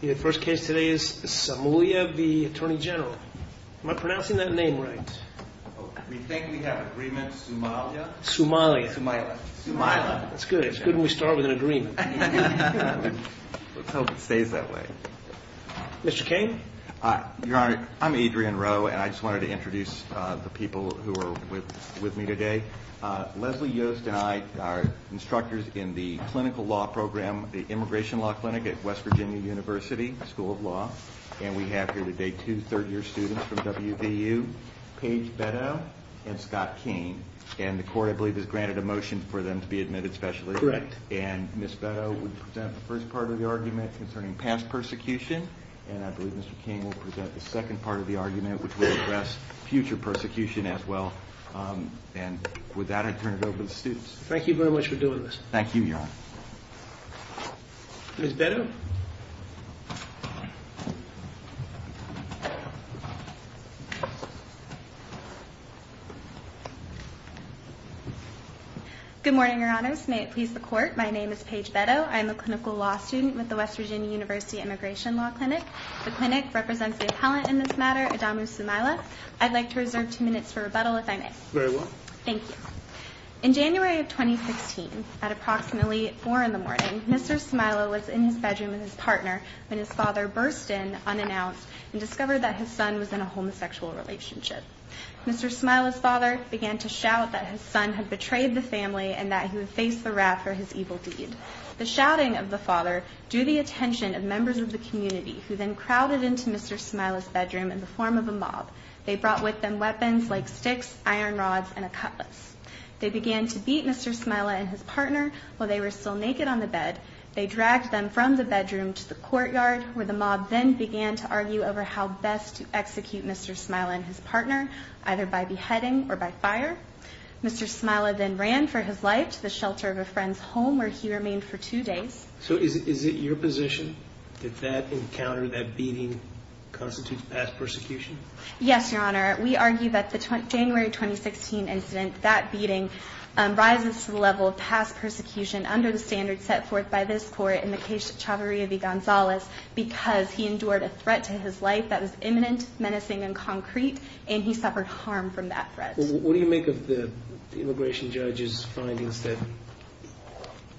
The first case today is Samaila v. Attorney General. Am I pronouncing that name right? We think we have agreement. Sumaila. Sumaila. Sumaila. That's good. It's good when we start with an agreement. Let's hope it stays that way. Mr. Kane? Your Honor, I'm Adrian Rowe and I just wanted to introduce the people who are with me today. Leslie Yost and I are instructors in the clinical law program at the Immigration Law Clinic at West Virginia University School of Law. And we have here today two third year students from WVU, Paige Betto and Scott King. And the court I believe has granted a motion for them to be admitted specially. Correct. And Ms. Betto will present the first part of the argument concerning past persecution. And I believe Mr. King will present the second part of the argument which will address future persecution as well. And with that I turn it over to the students. Thank you very much for doing this. Thank you, Your Honor. Ms. Betto? Good morning, Your Honors. May it please the court, my name is Paige Betto. I'm a clinical law student with the West Virginia University Immigration Law Clinic. The clinic represents the appellant in this matter, Adamu Sumaila. I'd like to reserve two minutes for rebuttal if I may. Very well. Thank you. In January of 2016, at approximately 4 in the morning, Mr. Sumaila was in his bedroom with his partner when his father burst in unannounced and discovered that his son was in a homosexual relationship. Mr. Sumaila's father began to shout that his son had betrayed the family and that he would face the wrath for his evil deed. The shouting of the father drew the attention of members of the community who then crowded into Mr. Sumaila's bedroom in the form of a mob. They brought with them weapons like sticks, iron rods, and a cutlass. They began to beat Mr. Sumaila and his partner while they were still naked on the bed. They dragged them from the bedroom to the courtyard where the mob then began to argue over how best to execute Mr. Sumaila and his partner, either by beheading or by fire. Mr. Sumaila then ran for his life to the shelter of a friend's home where he remained for two days. So is it your position that that encounter, that beating, constitutes past persecution? Yes, Your Honor. We argue that the January 2016 incident, that beating, rises to the level of past persecution under the standards set forth by this Court in the case of Chavarria v. Gonzales because he endured a threat to his life that was imminent, menacing, and concrete, and he suffered harm from that threat. What do you make of the immigration judge's findings that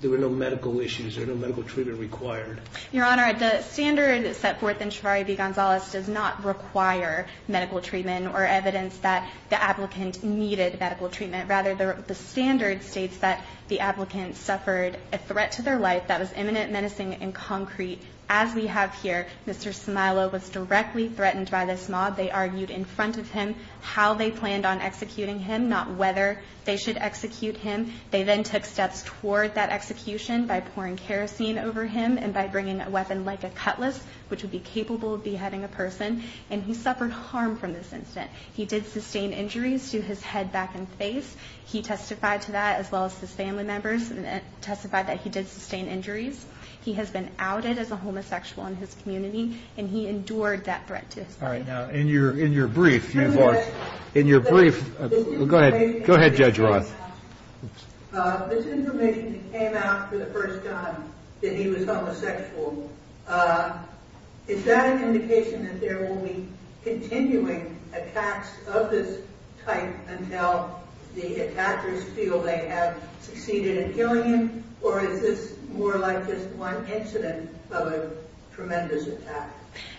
there were no medical issues or no medical treatment required? Your Honor, the standard set forth in Chavarria v. Gonzales does not require medical treatment or evidence that the applicant needed medical treatment. Rather, the standard states that the applicant suffered a threat to their life that was imminent, menacing, and concrete. As we have here, Mr. Sumaila was directly threatened by this mob. They argued in front of him how they planned on executing him, not whether they should execute him. They then took steps toward that execution by pouring kerosene over him and by bringing a weapon like a cutlass, which would be capable of beheading a person, and he suffered harm from this incident. He did sustain injuries to his head, back, and face. He testified to that as well as his family members testified that he did sustain injuries. He has been outed as a homosexual in his community, and he endured that threat to his life. All right. Now, in your brief, you've argued in your brief. Go ahead. Go ahead, Judge Roth. This information came out for the first time that he was homosexual. Is that an indication that there will be continuing attacks of this type until the attackers feel they have succeeded in killing him, or is this more like just one incident of a tremendous attack?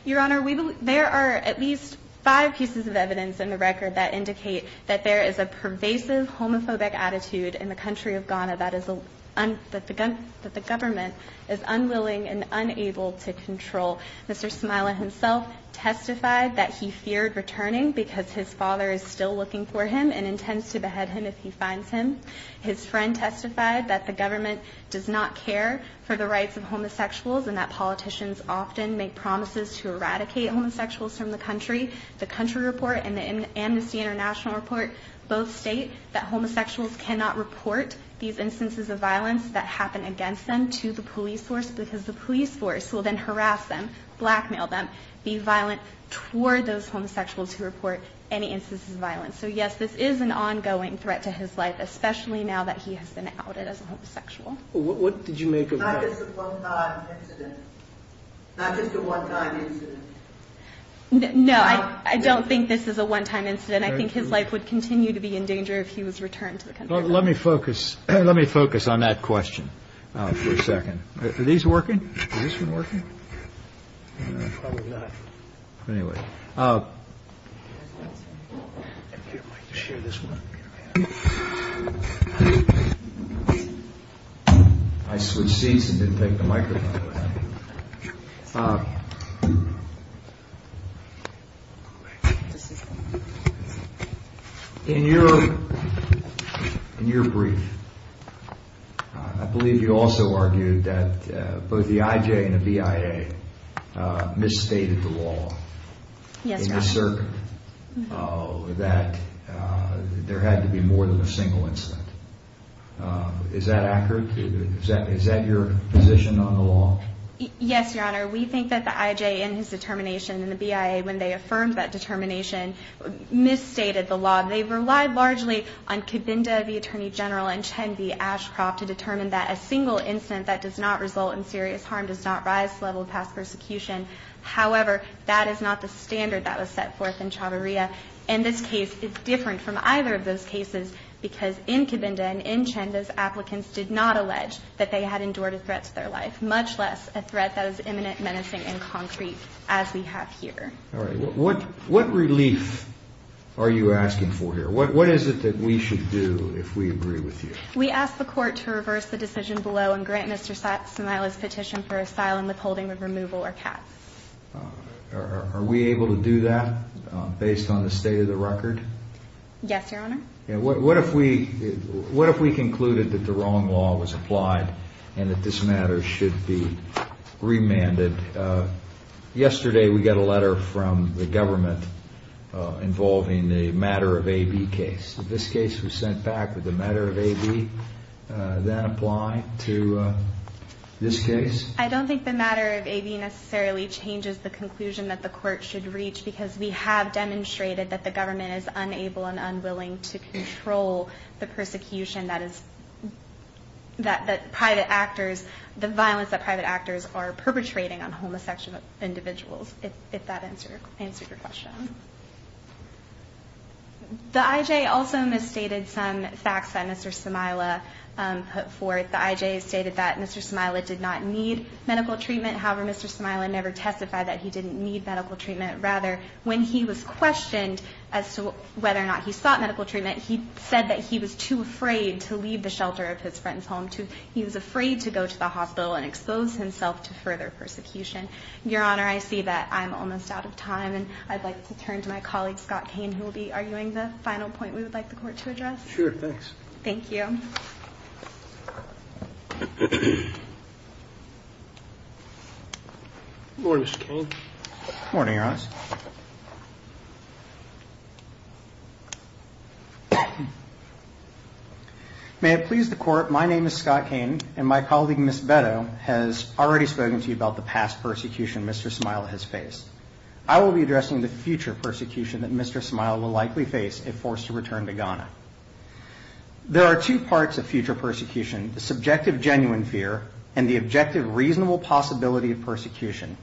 Your Honor, there are at least five pieces of evidence in the record that indicate that there is a pervasive homophobic attitude in the country of Ghana that the government is unwilling and unable to control. Mr. Smila himself testified that he feared returning because his father is still looking for him and intends to behead him if he finds him. His friend testified that the government does not care for the rights of homosexuals and that politicians often make promises to eradicate homosexuals from the country. The country report and the Amnesty International report both state that homosexuals cannot report these instances of violence that happen against them to the police force because the police force will then harass them, blackmail them, be violent toward those homosexuals who report any instances of violence. So, yes, this is an ongoing threat to his life, especially now that he has been outed as a homosexual. What did you make of that? It's not just a one-time incident. Not just a one-time incident. No, I don't think this is a one-time incident. I think his life would continue to be in danger if he was returned to the country. Let me focus on that question for a second. Are these working? Is this one working? Probably not. Anyway. If you'd like to share this one. I switched seats and didn't take the microphone. In your brief, I believe you also argued that both the IJ and the BIA misstated the law. Yes, sir. That there had to be more than a single incident. Is that accurate? Is that your position on the law? Yes, Your Honor. We think that the IJ in his determination and the BIA when they affirmed that determination misstated the law. They relied largely on Cabinda, the Attorney General, and Chen V. Ashcroft to determine that a single incident that does not result in serious harm does not rise to the level of past persecution. However, that is not the standard that was set forth in Chavarria. In this case, it's different from either of those cases because in Cabinda and in Chen, those applicants did not allege that they had endured a threat to their life, much less a threat that is imminent, menacing, and concrete as we have here. All right. What relief are you asking for here? What is it that we should do if we agree with you? We ask the Court to reverse the decision below and grant Mr. Sinaloa's petition for asylum withholding of removal or cap. Are we able to do that based on the state of the record? Yes, Your Honor. What if we concluded that the wrong law was applied and that this matter should be remanded? Yesterday, we got a letter from the government involving the Matter of A.B. case. This case was sent back with the Matter of A.B. then applied to this case. I don't think the Matter of A.B. necessarily changes the conclusion that the Court should reach because we have demonstrated that the government is unable and unwilling to control the persecution that private actors, the violence that private actors are perpetrating on homosexual individuals, if that answers your question. The I.J. also misstated some facts that Mr. Sinaloa put forth. The I.J. stated that Mr. Sinaloa did not need medical treatment. However, Mr. Sinaloa never testified that he didn't need medical treatment. Rather, when he was questioned as to whether or not he sought medical treatment, he said that he was too afraid to leave the shelter of his friend's home. He was afraid to go to the hospital and expose himself to further persecution. Your Honor, I see that I'm almost out of time, and I'd like to turn to my colleague, Scott Cain, who will be arguing the final point we would like the Court to address. Sure, thanks. Thank you. Good morning, Mr. Cain. Good morning, Your Honor. May it please the Court, my name is Scott Cain, and my colleague, Ms. Betto, has already spoken to you about the past persecution Mr. Sinaloa has faced. I will be addressing the future persecution that Mr. Sinaloa will likely face if forced to return to Ghana. There are two parts of future persecution, the subjective genuine fear and the objective reasonable possibility of persecution.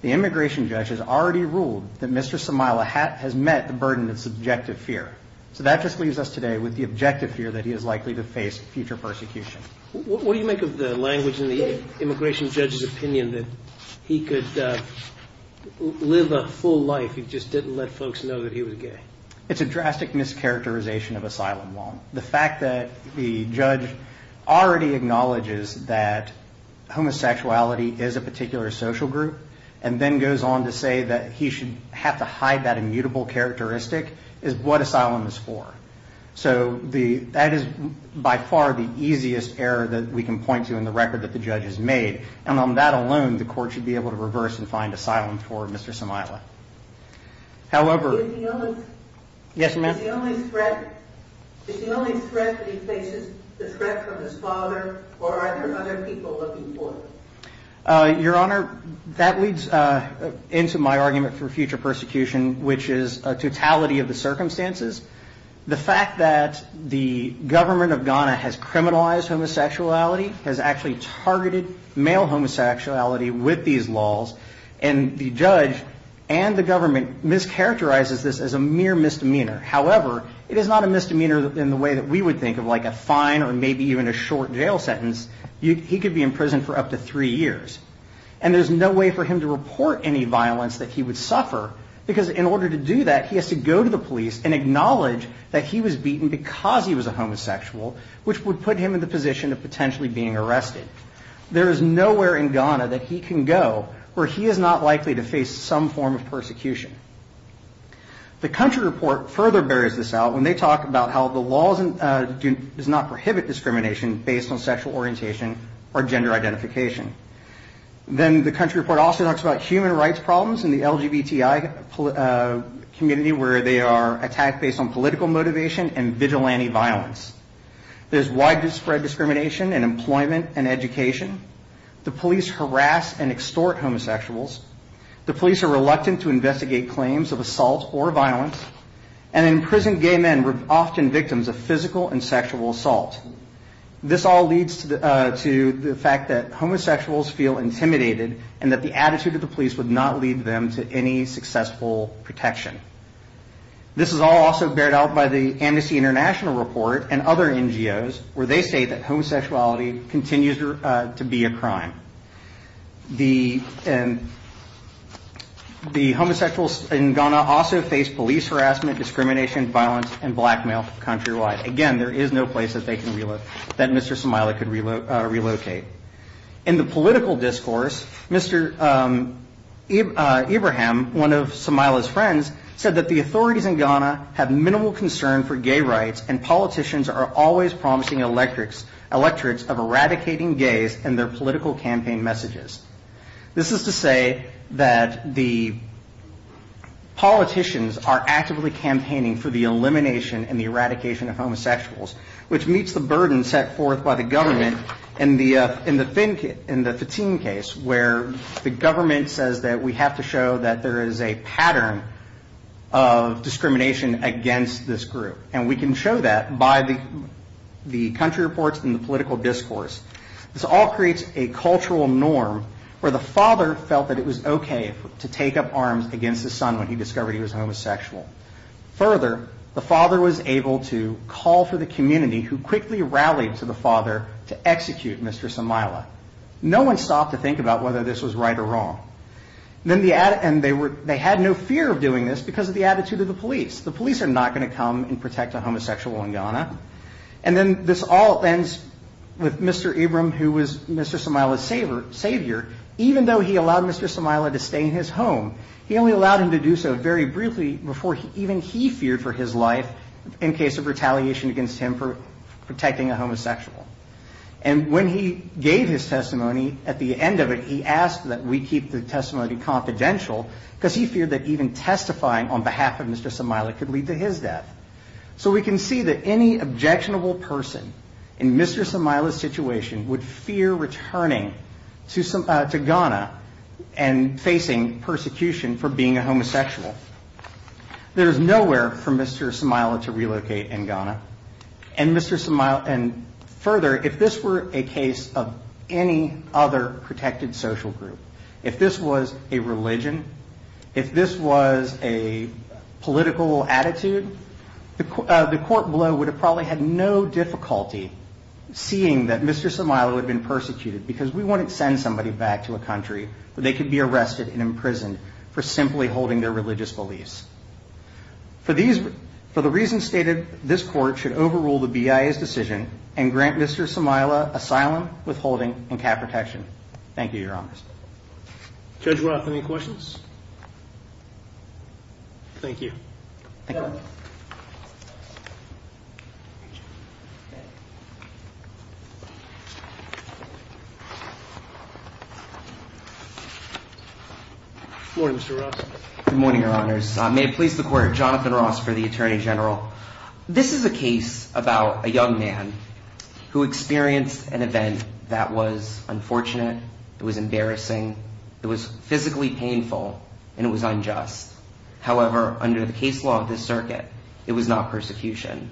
The immigration judge has already ruled that Mr. Sinaloa has met the burden of subjective fear. So that just leaves us today with the objective fear that he is likely to face future persecution. What do you make of the language in the immigration judge's opinion that he could live a full life if he just didn't let folks know that he was gay? It's a drastic mischaracterization of asylum law. The fact that the judge already acknowledges that homosexuality is a particular social group and then goes on to say that he should have to hide that immutable characteristic is what asylum is for. So that is by far the easiest error that we can point to in the record that the judge has made. And on that alone, the court should be able to reverse and find asylum for Mr. Sinaloa. Is the only threat that he faces the threat from his father, or are there other people looking for him? Your Honor, that leads into my argument for future persecution, which is a totality of the circumstances the fact that the government of Ghana has criminalized homosexuality, has actually targeted male homosexuality with these laws, and the judge and the government mischaracterizes this as a mere misdemeanor. However, it is not a misdemeanor in the way that we would think of like a fine or maybe even a short jail sentence. He could be in prison for up to three years. And there's no way for him to report any violence that he would suffer, because in order to do that, he has to go to the police and acknowledge that he was beaten because he was a homosexual, which would put him in the position of potentially being arrested. There is nowhere in Ghana that he can go where he is not likely to face some form of persecution. The country report further bears this out when they talk about how the laws do not prohibit discrimination based on sexual orientation or gender identification. Then the country report also talks about human rights problems in the LGBTI community where they are attacked based on political motivation and vigilante violence. There's widespread discrimination in employment and education. The police harass and extort homosexuals. The police are reluctant to investigate claims of assault or violence. And imprisoned gay men are often victims of physical and sexual assault. This all leads to the fact that homosexuals feel intimidated and that the attitude of the police would not lead them to any successful protection. This is all also bared out by the Amnesty International report and other NGOs where they say that homosexuality continues to be a crime. The homosexuals in Ghana also face police harassment, discrimination, violence, and blackmail countrywide. Again, there is no place that Mr. Somaila could relocate. In the political discourse, Mr. Ibrahim, one of Somaila's friends, said that the authorities in Ghana have minimal concern for gay rights and politicians are always promising electorates of eradicating gays and their political campaign messages. This is to say that the politicians are actively campaigning for the elimination and the eradication of homosexuals, which meets the burden set forth by the government in the Fatim case where the government says that we have to show that there is a pattern of discrimination against this group. And we can show that by the country reports and the political discourse. This all creates a cultural norm where the father felt that it was okay to take up arms against his son when he discovered he was homosexual. Further, the father was able to call for the community who quickly rallied to the father to execute Mr. Somaila. No one stopped to think about whether this was right or wrong. They had no fear of doing this because of the attitude of the police. And then this all ends with Mr. Ibrahim, who was Mr. Somaila's savior, even though he allowed Mr. Somaila to stay in his home, he only allowed him to do so very briefly before even he feared for his life in case of retaliation against him for protecting a homosexual. And when he gave his testimony, at the end of it, he asked that we keep the testimony confidential because he feared that even testifying on behalf of Mr. Somaila could lead to his death. So we can see that any objectionable person in Mr. Somaila's situation would fear returning to Ghana and facing persecution for being a homosexual. There is nowhere for Mr. Somaila to relocate in Ghana. Further, if this were a case of any other protected social group, if this was a religion, if this was a political attitude, the court below would have probably had no difficulty seeing that Mr. Somaila had been persecuted because we wouldn't send somebody back to a country where they could be arrested and imprisoned for simply holding their religious beliefs. For the reasons stated, this court should overrule the BIA's decision and grant Mr. Somaila asylum, withholding, and cap protection. Thank you, Your Honors. Judge Roth, any questions? Thank you. Thank you. Good morning, Mr. Roth. Good morning, Your Honors. May it please the Court, Jonathan Roth for the Attorney General. This is a case about a young man who experienced an event that was unfortunate, it was embarrassing, it was physically painful, and it was unjust. However, under the case law of this circuit, it was not persecution.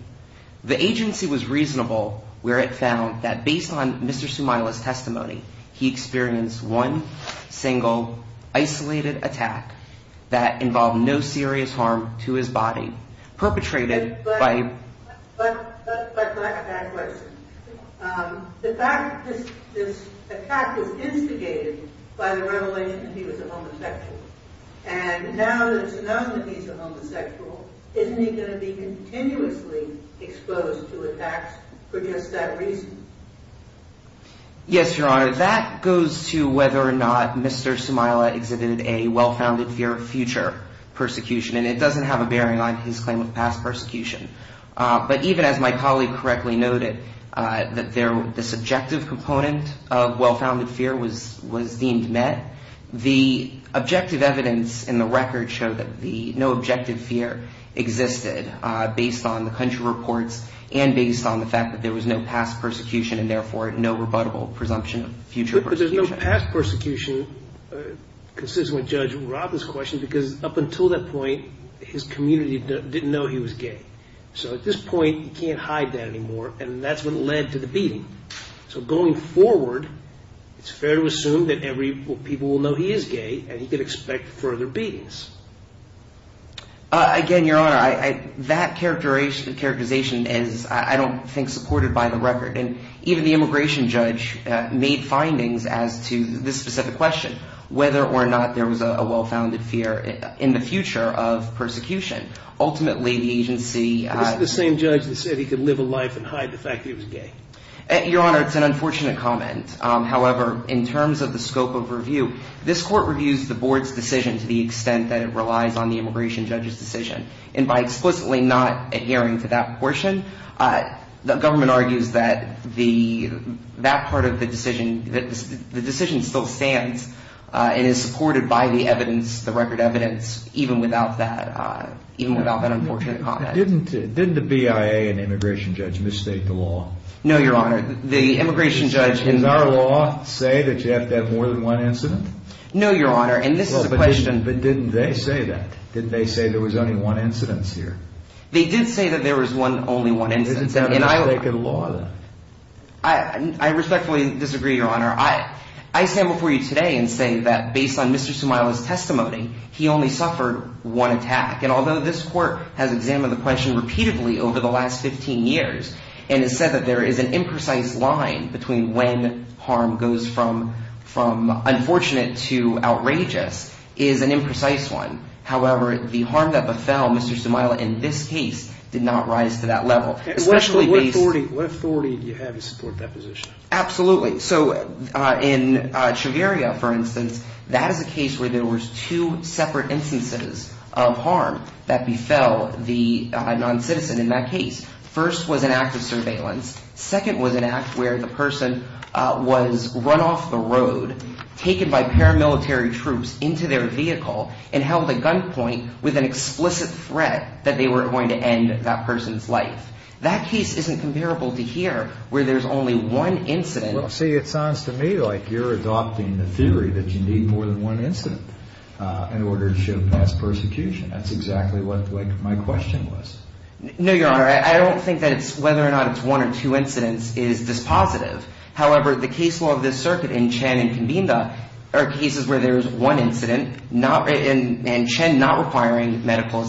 The agency was reasonable where it found that based on Mr. Somaila's testimony, he experienced one single isolated attack that involved no serious harm to his body, perpetrated by a black man. The fact that this attack was instigated by the revelation that he was a homosexual, and now that it's announced that he's a homosexual, isn't he going to be continuously exposed to attacks for just that reason? Yes, Your Honor. That goes to whether or not Mr. Somaila exhibited a well-founded fear of future persecution, and it doesn't have a bearing on his claim of past persecution. But even as my colleague correctly noted, the subjective component of well-founded fear was deemed met. The objective evidence in the record showed that no objective fear existed, based on the country reports and based on the fact that there was no past persecution and therefore no rebuttable presumption of future persecution. But there's no past persecution, consistent with Judge Robb's question, because up until that point, his community didn't know he was gay. So at this point, you can't hide that anymore, and that's what led to the beating. So going forward, it's fair to assume that people will know he is gay, and he could expect further beatings. Again, Your Honor, that characterization is, I don't think, supported by the record. And even the immigration judge made findings as to this specific question, whether or not there was a well-founded fear in the future of persecution. Ultimately, the agency… The same judge that said he could live a life and hide the fact that he was gay. Your Honor, it's an unfortunate comment. However, in terms of the scope of review, this court reviews the board's decision to the extent that it relies on the immigration judge's decision. And by explicitly not adhering to that portion, the government argues that that part of the decision still stands and is supported by the evidence, the record evidence, even without that unfortunate comment. Didn't the BIA and immigration judge misstate the law? No, Your Honor. The immigration judge… Did our law say that you have to have more than one incident? No, Your Honor, and this is a question… But didn't they say that? Didn't they say there was only one incident here? They did say that there was only one incident. Did they misstate the law, then? I respectfully disagree, Your Honor. I stand before you today and say that based on Mr. Sumaila's testimony, he only suffered one attack. And although this court has examined the question repeatedly over the last 15 years and has said that there is an imprecise line between when harm goes from unfortunate to outrageous, it is an imprecise one. However, the harm that befell Mr. Sumaila in this case did not rise to that level. What authority do you have to support that position? Absolutely. So, in Treveria, for instance, that is a case where there was two separate instances of harm that befell the noncitizen in that case. First was an act of surveillance. Second was an act where the person was run off the road, taken by paramilitary troops into their vehicle, and held at gunpoint with an explicit threat that they were going to end that person's life. That case isn't comparable to here where there's only one incident. Well, see, it sounds to me like you're adopting the theory that you need more than one incident in order to show past persecution. That's exactly what my question was. No, Your Honor. I don't think that it's whether or not it's one or two incidents is dispositive. However, the case law of this circuit in Chen and Convinda are cases where there is one incident, and Chen not requiring medical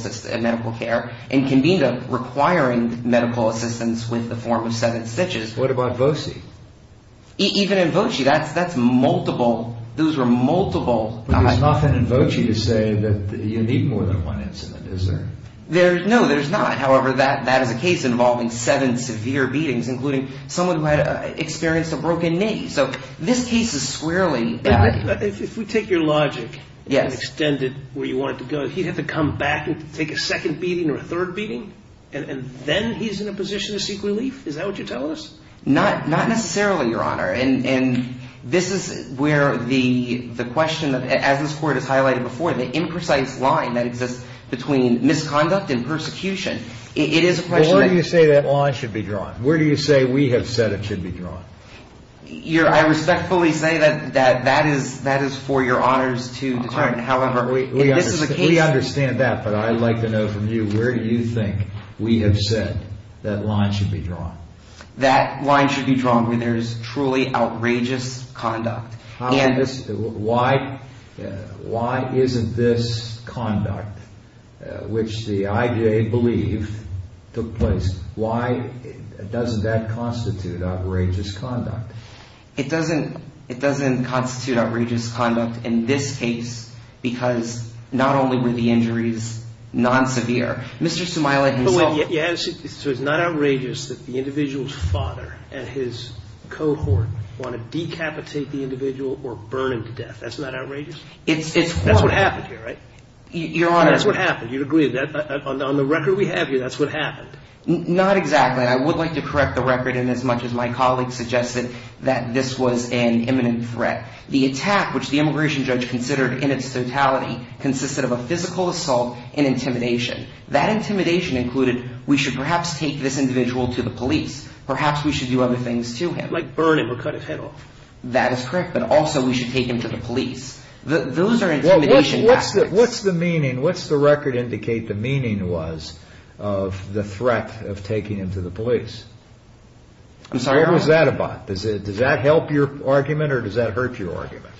care, and Convinda requiring medical assistance with the form of seven stitches. What about Voce? Even in Voce, that's multiple. Those were multiple. But there's nothing in Voce to say that you need more than one incident, is there? No, there's not. However, that is a case involving seven severe beatings, including someone who had experienced a broken knee. So this case is squarely... If we take your logic and extend it where you want it to go, he'd have to come back and take a second beating or a third beating, and then he's in a position to seek relief? Is that what you're telling us? Not necessarily, Your Honor. And this is where the question, as this Court has highlighted before, the imprecise line that exists between misconduct and persecution, it is a question... Well, where do you say that line should be drawn? Where do you say we have said it should be drawn? I respectfully say that that is for Your Honors to determine. However, this is a case... We understand that, but I'd like to know from you, where do you think we have said that line should be drawn? That line should be drawn where there is truly outrageous conduct. Why isn't this conduct, which the IJA believed took place, why doesn't that constitute outrageous conduct? It doesn't constitute outrageous conduct in this case because not only were the injuries non-severe, Mr. Sumaili himself... So it's not outrageous that the individual's father and his cohort want to decapitate the individual or burn him to death. That's not outrageous? That's what happened here, right? Your Honor... That's what happened, you'd agree. On the record we have here, that's what happened. Not exactly. I would like to correct the record in as much as my colleague suggested that this was an imminent threat. The attack, which the immigration judge considered in its totality, consisted of a physical assault and intimidation. That intimidation included, we should perhaps take this individual to the police. Perhaps we should do other things to him. Like burn him or cut his head off. That is correct, but also we should take him to the police. Those are intimidation tactics. What's the record indicate the meaning was of the threat of taking him to the police? I'm sorry, Your Honor. What was that about? Does that help your argument or does that hurt your argument?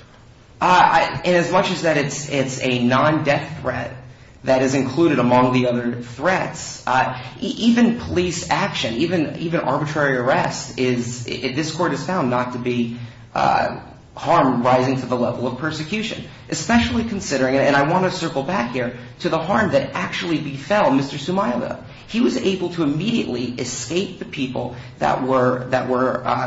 As much as that it's a non-death threat that is included among the other threats, even police action, even arbitrary arrest, this court has found not to be harm rising to the level of persecution. Especially considering, and I want to circle back here, to the harm that actually befell Mr. Sumaila. He was able to immediately escape the people that were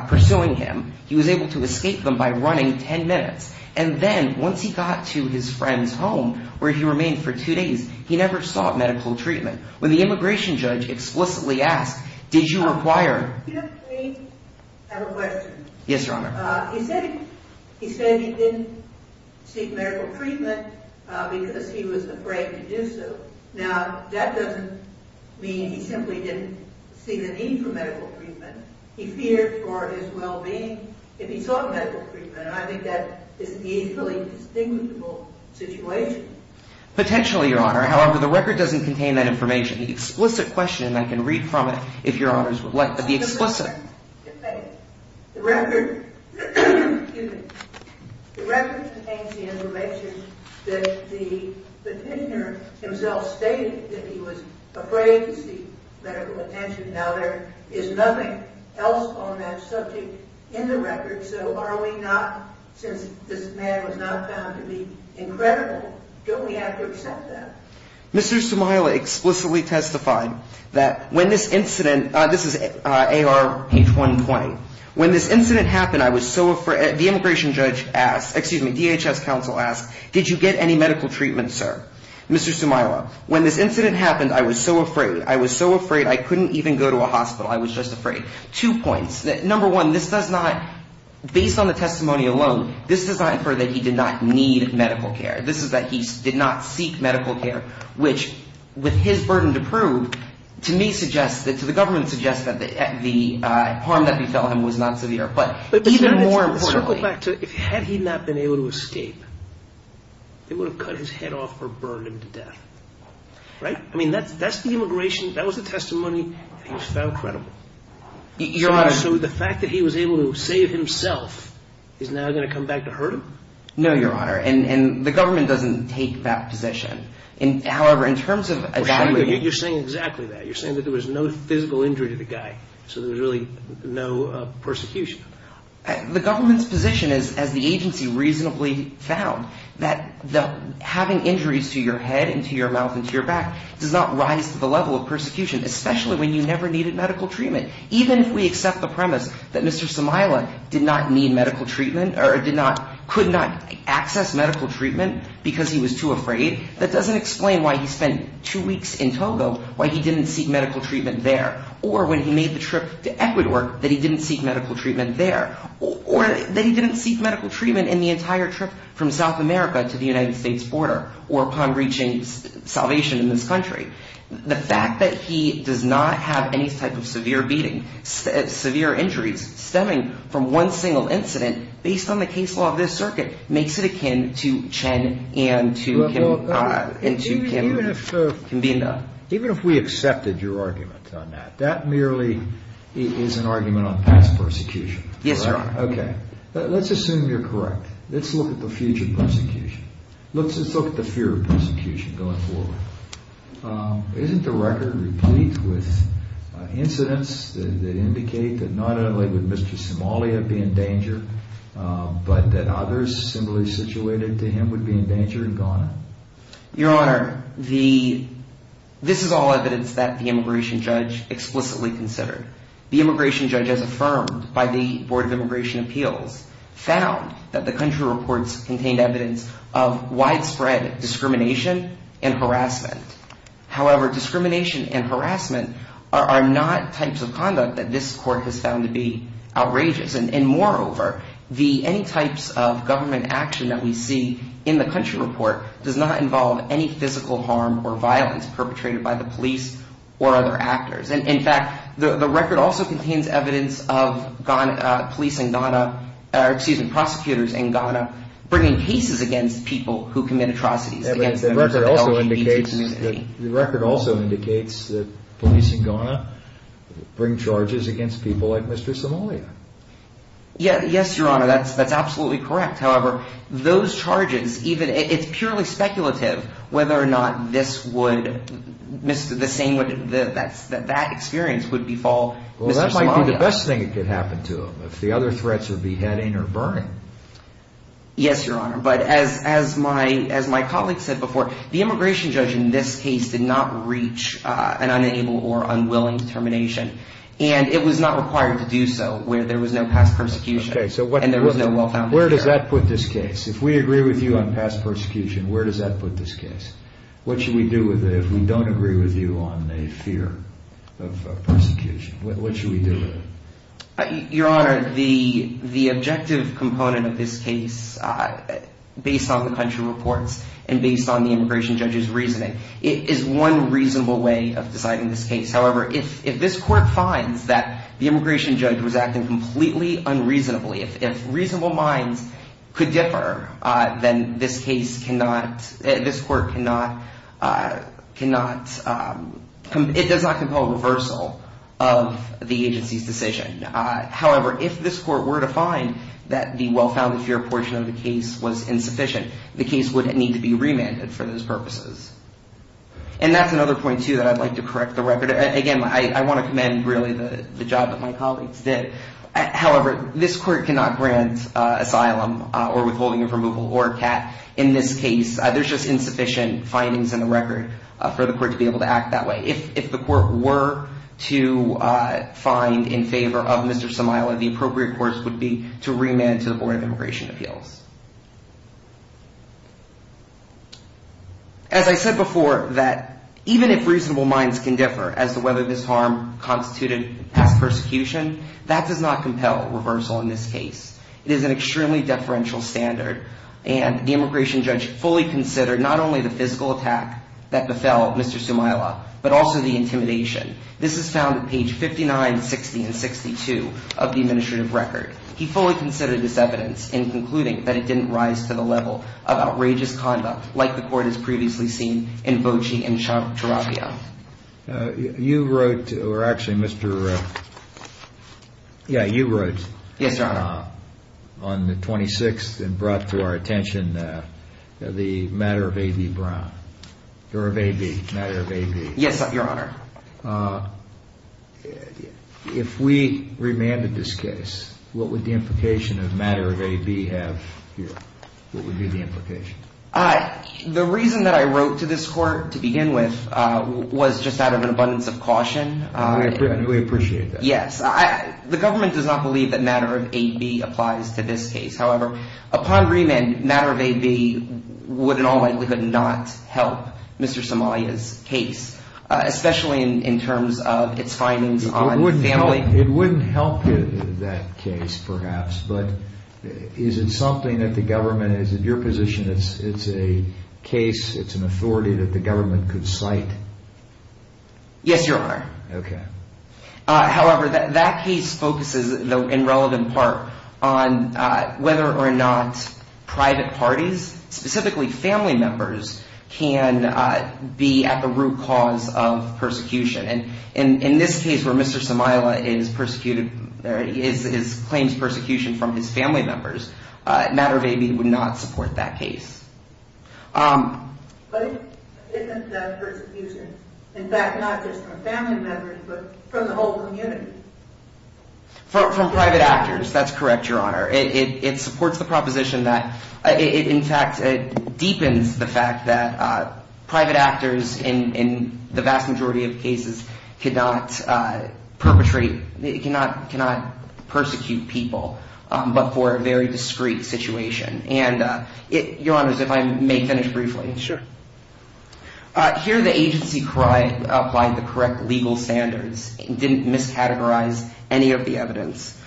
pursuing him. He was able to escape them by running ten minutes. And then once he got to his friend's home where he remained for two days, he never sought medical treatment. When the immigration judge explicitly asked, did you require... I have a question. Yes, Your Honor. He said he didn't seek medical treatment because he was afraid to do so. Now, that doesn't mean he simply didn't see the need for medical treatment. He feared for his well-being if he sought medical treatment. And I think that is an equally distinguishable situation. Potentially, Your Honor. However, the record doesn't contain that information. The explicit question, and I can read from it if Your Honors would like, but the explicit... The record contains the information that the petitioner himself, stated that he was afraid to seek medical attention. Now, there is nothing else on that subject in the record. So are we not, since this man was not found to be incredible, don't we have to accept that? Mr. Sumaila explicitly testified that when this incident... This is ARH 120. When this incident happened, I was so afraid... The immigration judge asked, excuse me, DHS counsel asked, did you get any medical treatment, sir? Mr. Sumaila, when this incident happened, I was so afraid. I was so afraid I couldn't even go to a hospital. I was just afraid. Two points. Number one, this does not, based on the testimony alone, this does not infer that he did not need medical care. This is that he did not seek medical care, which, with his burden to prove, to me suggests, to the government, suggests that the harm that befell him was not severe. But even more importantly... Right? I mean, that's the immigration, that was the testimony that he was found credible. Your Honor... So the fact that he was able to save himself is now going to come back to hurt him? No, Your Honor. And the government doesn't take that position. However, in terms of evaluating... You're saying exactly that. You're saying that there was no physical injury to the guy, so there was really no persecution. The government's position is, as the agency reasonably found, that having injuries to your head and to your mouth and to your back does not rise to the level of persecution, especially when you never needed medical treatment. Even if we accept the premise that Mr. Somaila did not need medical treatment or could not access medical treatment because he was too afraid, that doesn't explain why he spent two weeks in Togo, why he didn't seek medical treatment there. Or when he made the trip to Ecuador, that he didn't seek medical treatment there. Or that he didn't seek medical treatment in the entire trip from South America to the United States border or upon reaching salvation in this country. The fact that he does not have any type of severe beating, severe injuries stemming from one single incident, based on the case law of this circuit, makes it akin to Chen and to Kim. Even if we accepted your argument on that, that merely is an argument on past persecution. Yes, Your Honor. Okay. Let's assume you're correct. Let's look at the future persecution. Let's just look at the fear of persecution going forward. Isn't the record replete with incidents that indicate that not only would Mr. Somaila be in danger, but that others similarly situated to him would be in danger in Ghana? Your Honor, this is all evidence that the immigration judge explicitly considered. The immigration judge, as affirmed by the Board of Immigration Appeals, found that the country reports contained evidence of widespread discrimination and harassment. However, discrimination and harassment are not types of conduct that this court has found to be outrageous. And moreover, any types of government action that we see in the country report does not involve any physical harm or violence perpetrated by the police or other actors. In fact, the record also contains evidence of police in Ghana, excuse me, prosecutors in Ghana bringing cases against people who commit atrocities. The record also indicates that police in Ghana bring charges against people like Mr. Somaila. Yes, Your Honor. That's absolutely correct. However, those charges, it's purely speculative whether or not this would, the same, that that experience would befall Mr. Somaila. Well, that might be the best thing that could happen to him. If the other threats are beheading or burning. Yes, Your Honor, but as my colleague said before, the immigration judge in this case did not reach an unable or unwilling determination. And it was not required to do so where there was no past persecution. Okay, so where does that put this case? If we agree with you on past persecution, where does that put this case? What should we do with it if we don't agree with you on a fear of persecution? What should we do with it? Your Honor, the objective component of this case, based on the country reports and based on the immigration judge's reasoning, is one reasonable way of deciding this case. However, if this court finds that the immigration judge was acting completely unreasonably, if reasonable minds could differ, then this case cannot, this court cannot, cannot, it does not compel reversal of the agency's decision. However, if this court were to find that the well-founded fear portion of the case was insufficient, the case would need to be remanded for those purposes. And that's another point, too, that I'd like to correct the record. Again, I want to commend, really, the job that my colleagues did. However, this court cannot grant asylum or withholding of removal or a CAT in this case. There's just insufficient findings in the record for the court to be able to act that way. If the court were to find in favor of Mr. Samayla, the appropriate course would be to remand to the Board of Immigration Appeals. As I said before, that even if reasonable minds can differ as to whether this harm constituted past persecution, that does not compel reversal in this case. It is an extremely deferential standard, and the immigration judge fully considered not only the physical attack that befell Mr. Samayla, but also the intimidation. This is found at page 59, 60, and 62 of the administrative record. He fully considered this evidence in concluding that it didn't rise to the level of outrageous conduct, like the court has previously seen in Bocey and Tarapia. You wrote, or actually Mr. Yeah, you wrote. Yes, Your Honor. On the 26th and brought to our attention the matter of A.B. Brown. Or of A.B., matter of A.B. Yes, Your Honor. If we remanded this case, what would the implication of matter of A.B. have here? What would be the implication? The reason that I wrote to this court to begin with was just out of an abundance of caution. We appreciate that. Yes. The government does not believe that matter of A.B. applies to this case. However, upon remand, matter of A.B. would in all likelihood not help Mr. Samayla's case, especially in terms of its findings on family. It wouldn't help that case perhaps, but is it something that the government, is it your position that it's a case, it's an authority that the government could cite? Yes, Your Honor. Okay. However, that case focuses in relevant part on whether or not private parties, specifically family members, can be at the root cause of persecution. In this case where Mr. Samayla claims persecution from his family members, matter of A.B. would not support that case. But isn't that persecution, in fact, not just from family members, but from the whole community? From private actors, that's correct, Your Honor. It supports the proposition that, in fact, it deepens the fact that private actors, in the vast majority of cases, cannot persecute people, but for a very discreet situation. Your Honor, if I may finish briefly. Sure. Here the agency applied the correct legal standards, didn't miscategorize any of the evidence.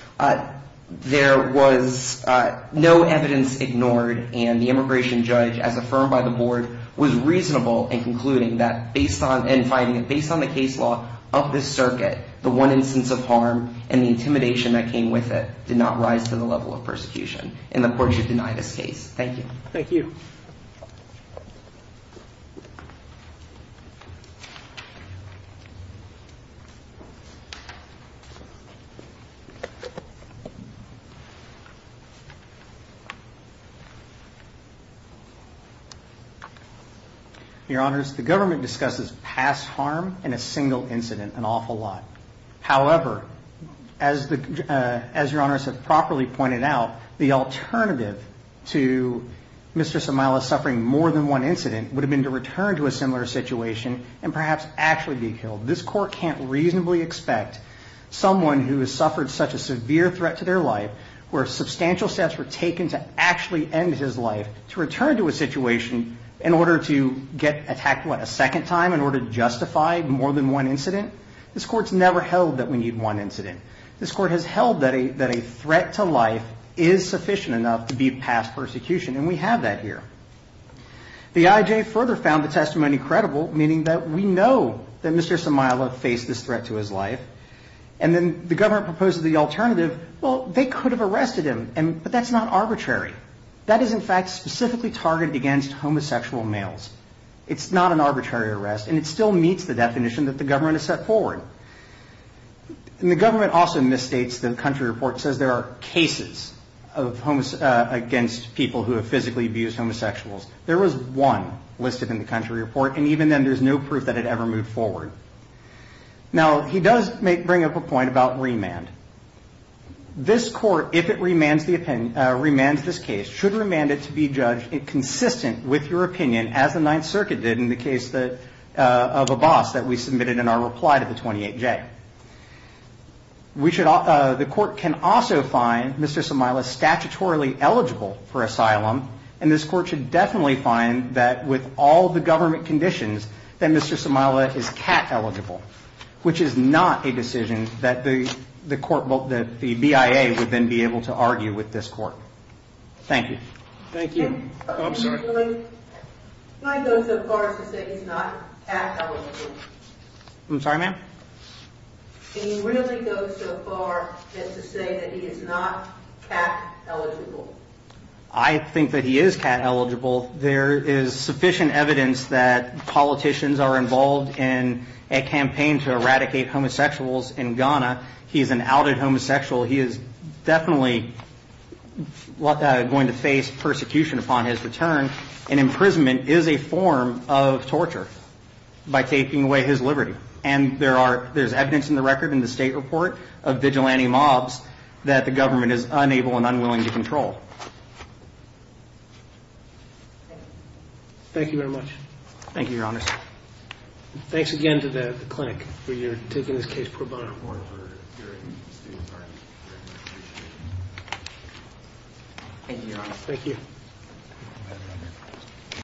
There was no evidence ignored, and the immigration judge, as affirmed by the board, was reasonable in concluding that, based on the case law of this circuit, the one instance of harm and the intimidation that came with it did not rise to the level of persecution. And the court should deny this case. Thank you. Thank you. Your Honors, the government discusses past harm in a single incident an awful lot. However, as Your Honors have properly pointed out, the alternative to Mr. Samayla suffering more than one incident would have been to return to a similar situation and perhaps actually be killed. This court can't reasonably expect someone who has suffered such a severe threat to their life, where substantial steps were taken to actually end his life, to return to a situation in order to get attacked, what, a second time in order to justify more than one incident? This court's never held that we need one incident. This court has held that a threat to life is sufficient enough to beat past persecution, and we have that here. The IJ further found the testimony credible, meaning that we know that Mr. Samayla faced this threat to his life. And then the government proposed the alternative, well, they could have arrested him, but that's not arbitrary. That is, in fact, specifically targeted against homosexual males. It's not an arbitrary arrest, and it still meets the definition that the government has set forward. And the government also misstates the country report says there are cases against people who have physically abused homosexuals. There was one listed in the country report, and even then there's no proof that it ever moved forward. Now, he does bring up a point about remand. This court, if it remands this case, should remand it to be judged consistent with your opinion, as the Ninth Circuit did in the case of Abbas that we submitted in our reply to the 28J. The court can also find Mr. Samayla statutorily eligible for asylum, and this court should definitely find that with all the government conditions that Mr. Samayla is CAT eligible, which is not a decision that the BIA would then be able to argue with this court. Thank you. Thank you. Can you really go so far as to say he's not CAT eligible? I'm sorry, ma'am? Can you really go so far as to say that he is not CAT eligible? I think that he is CAT eligible. There is sufficient evidence that politicians are involved in a campaign to eradicate homosexuals in Ghana. He's an outed homosexual. He is definitely going to face persecution upon his return, and imprisonment is a form of torture by taking away his liberty. And there's evidence in the record in the state report of vigilante mobs that the government is unable and unwilling to control. Thank you very much. Thank you, Your Honor. Thanks again to the clinic for taking this case pro bono. Thank you, Your Honor. Thank you.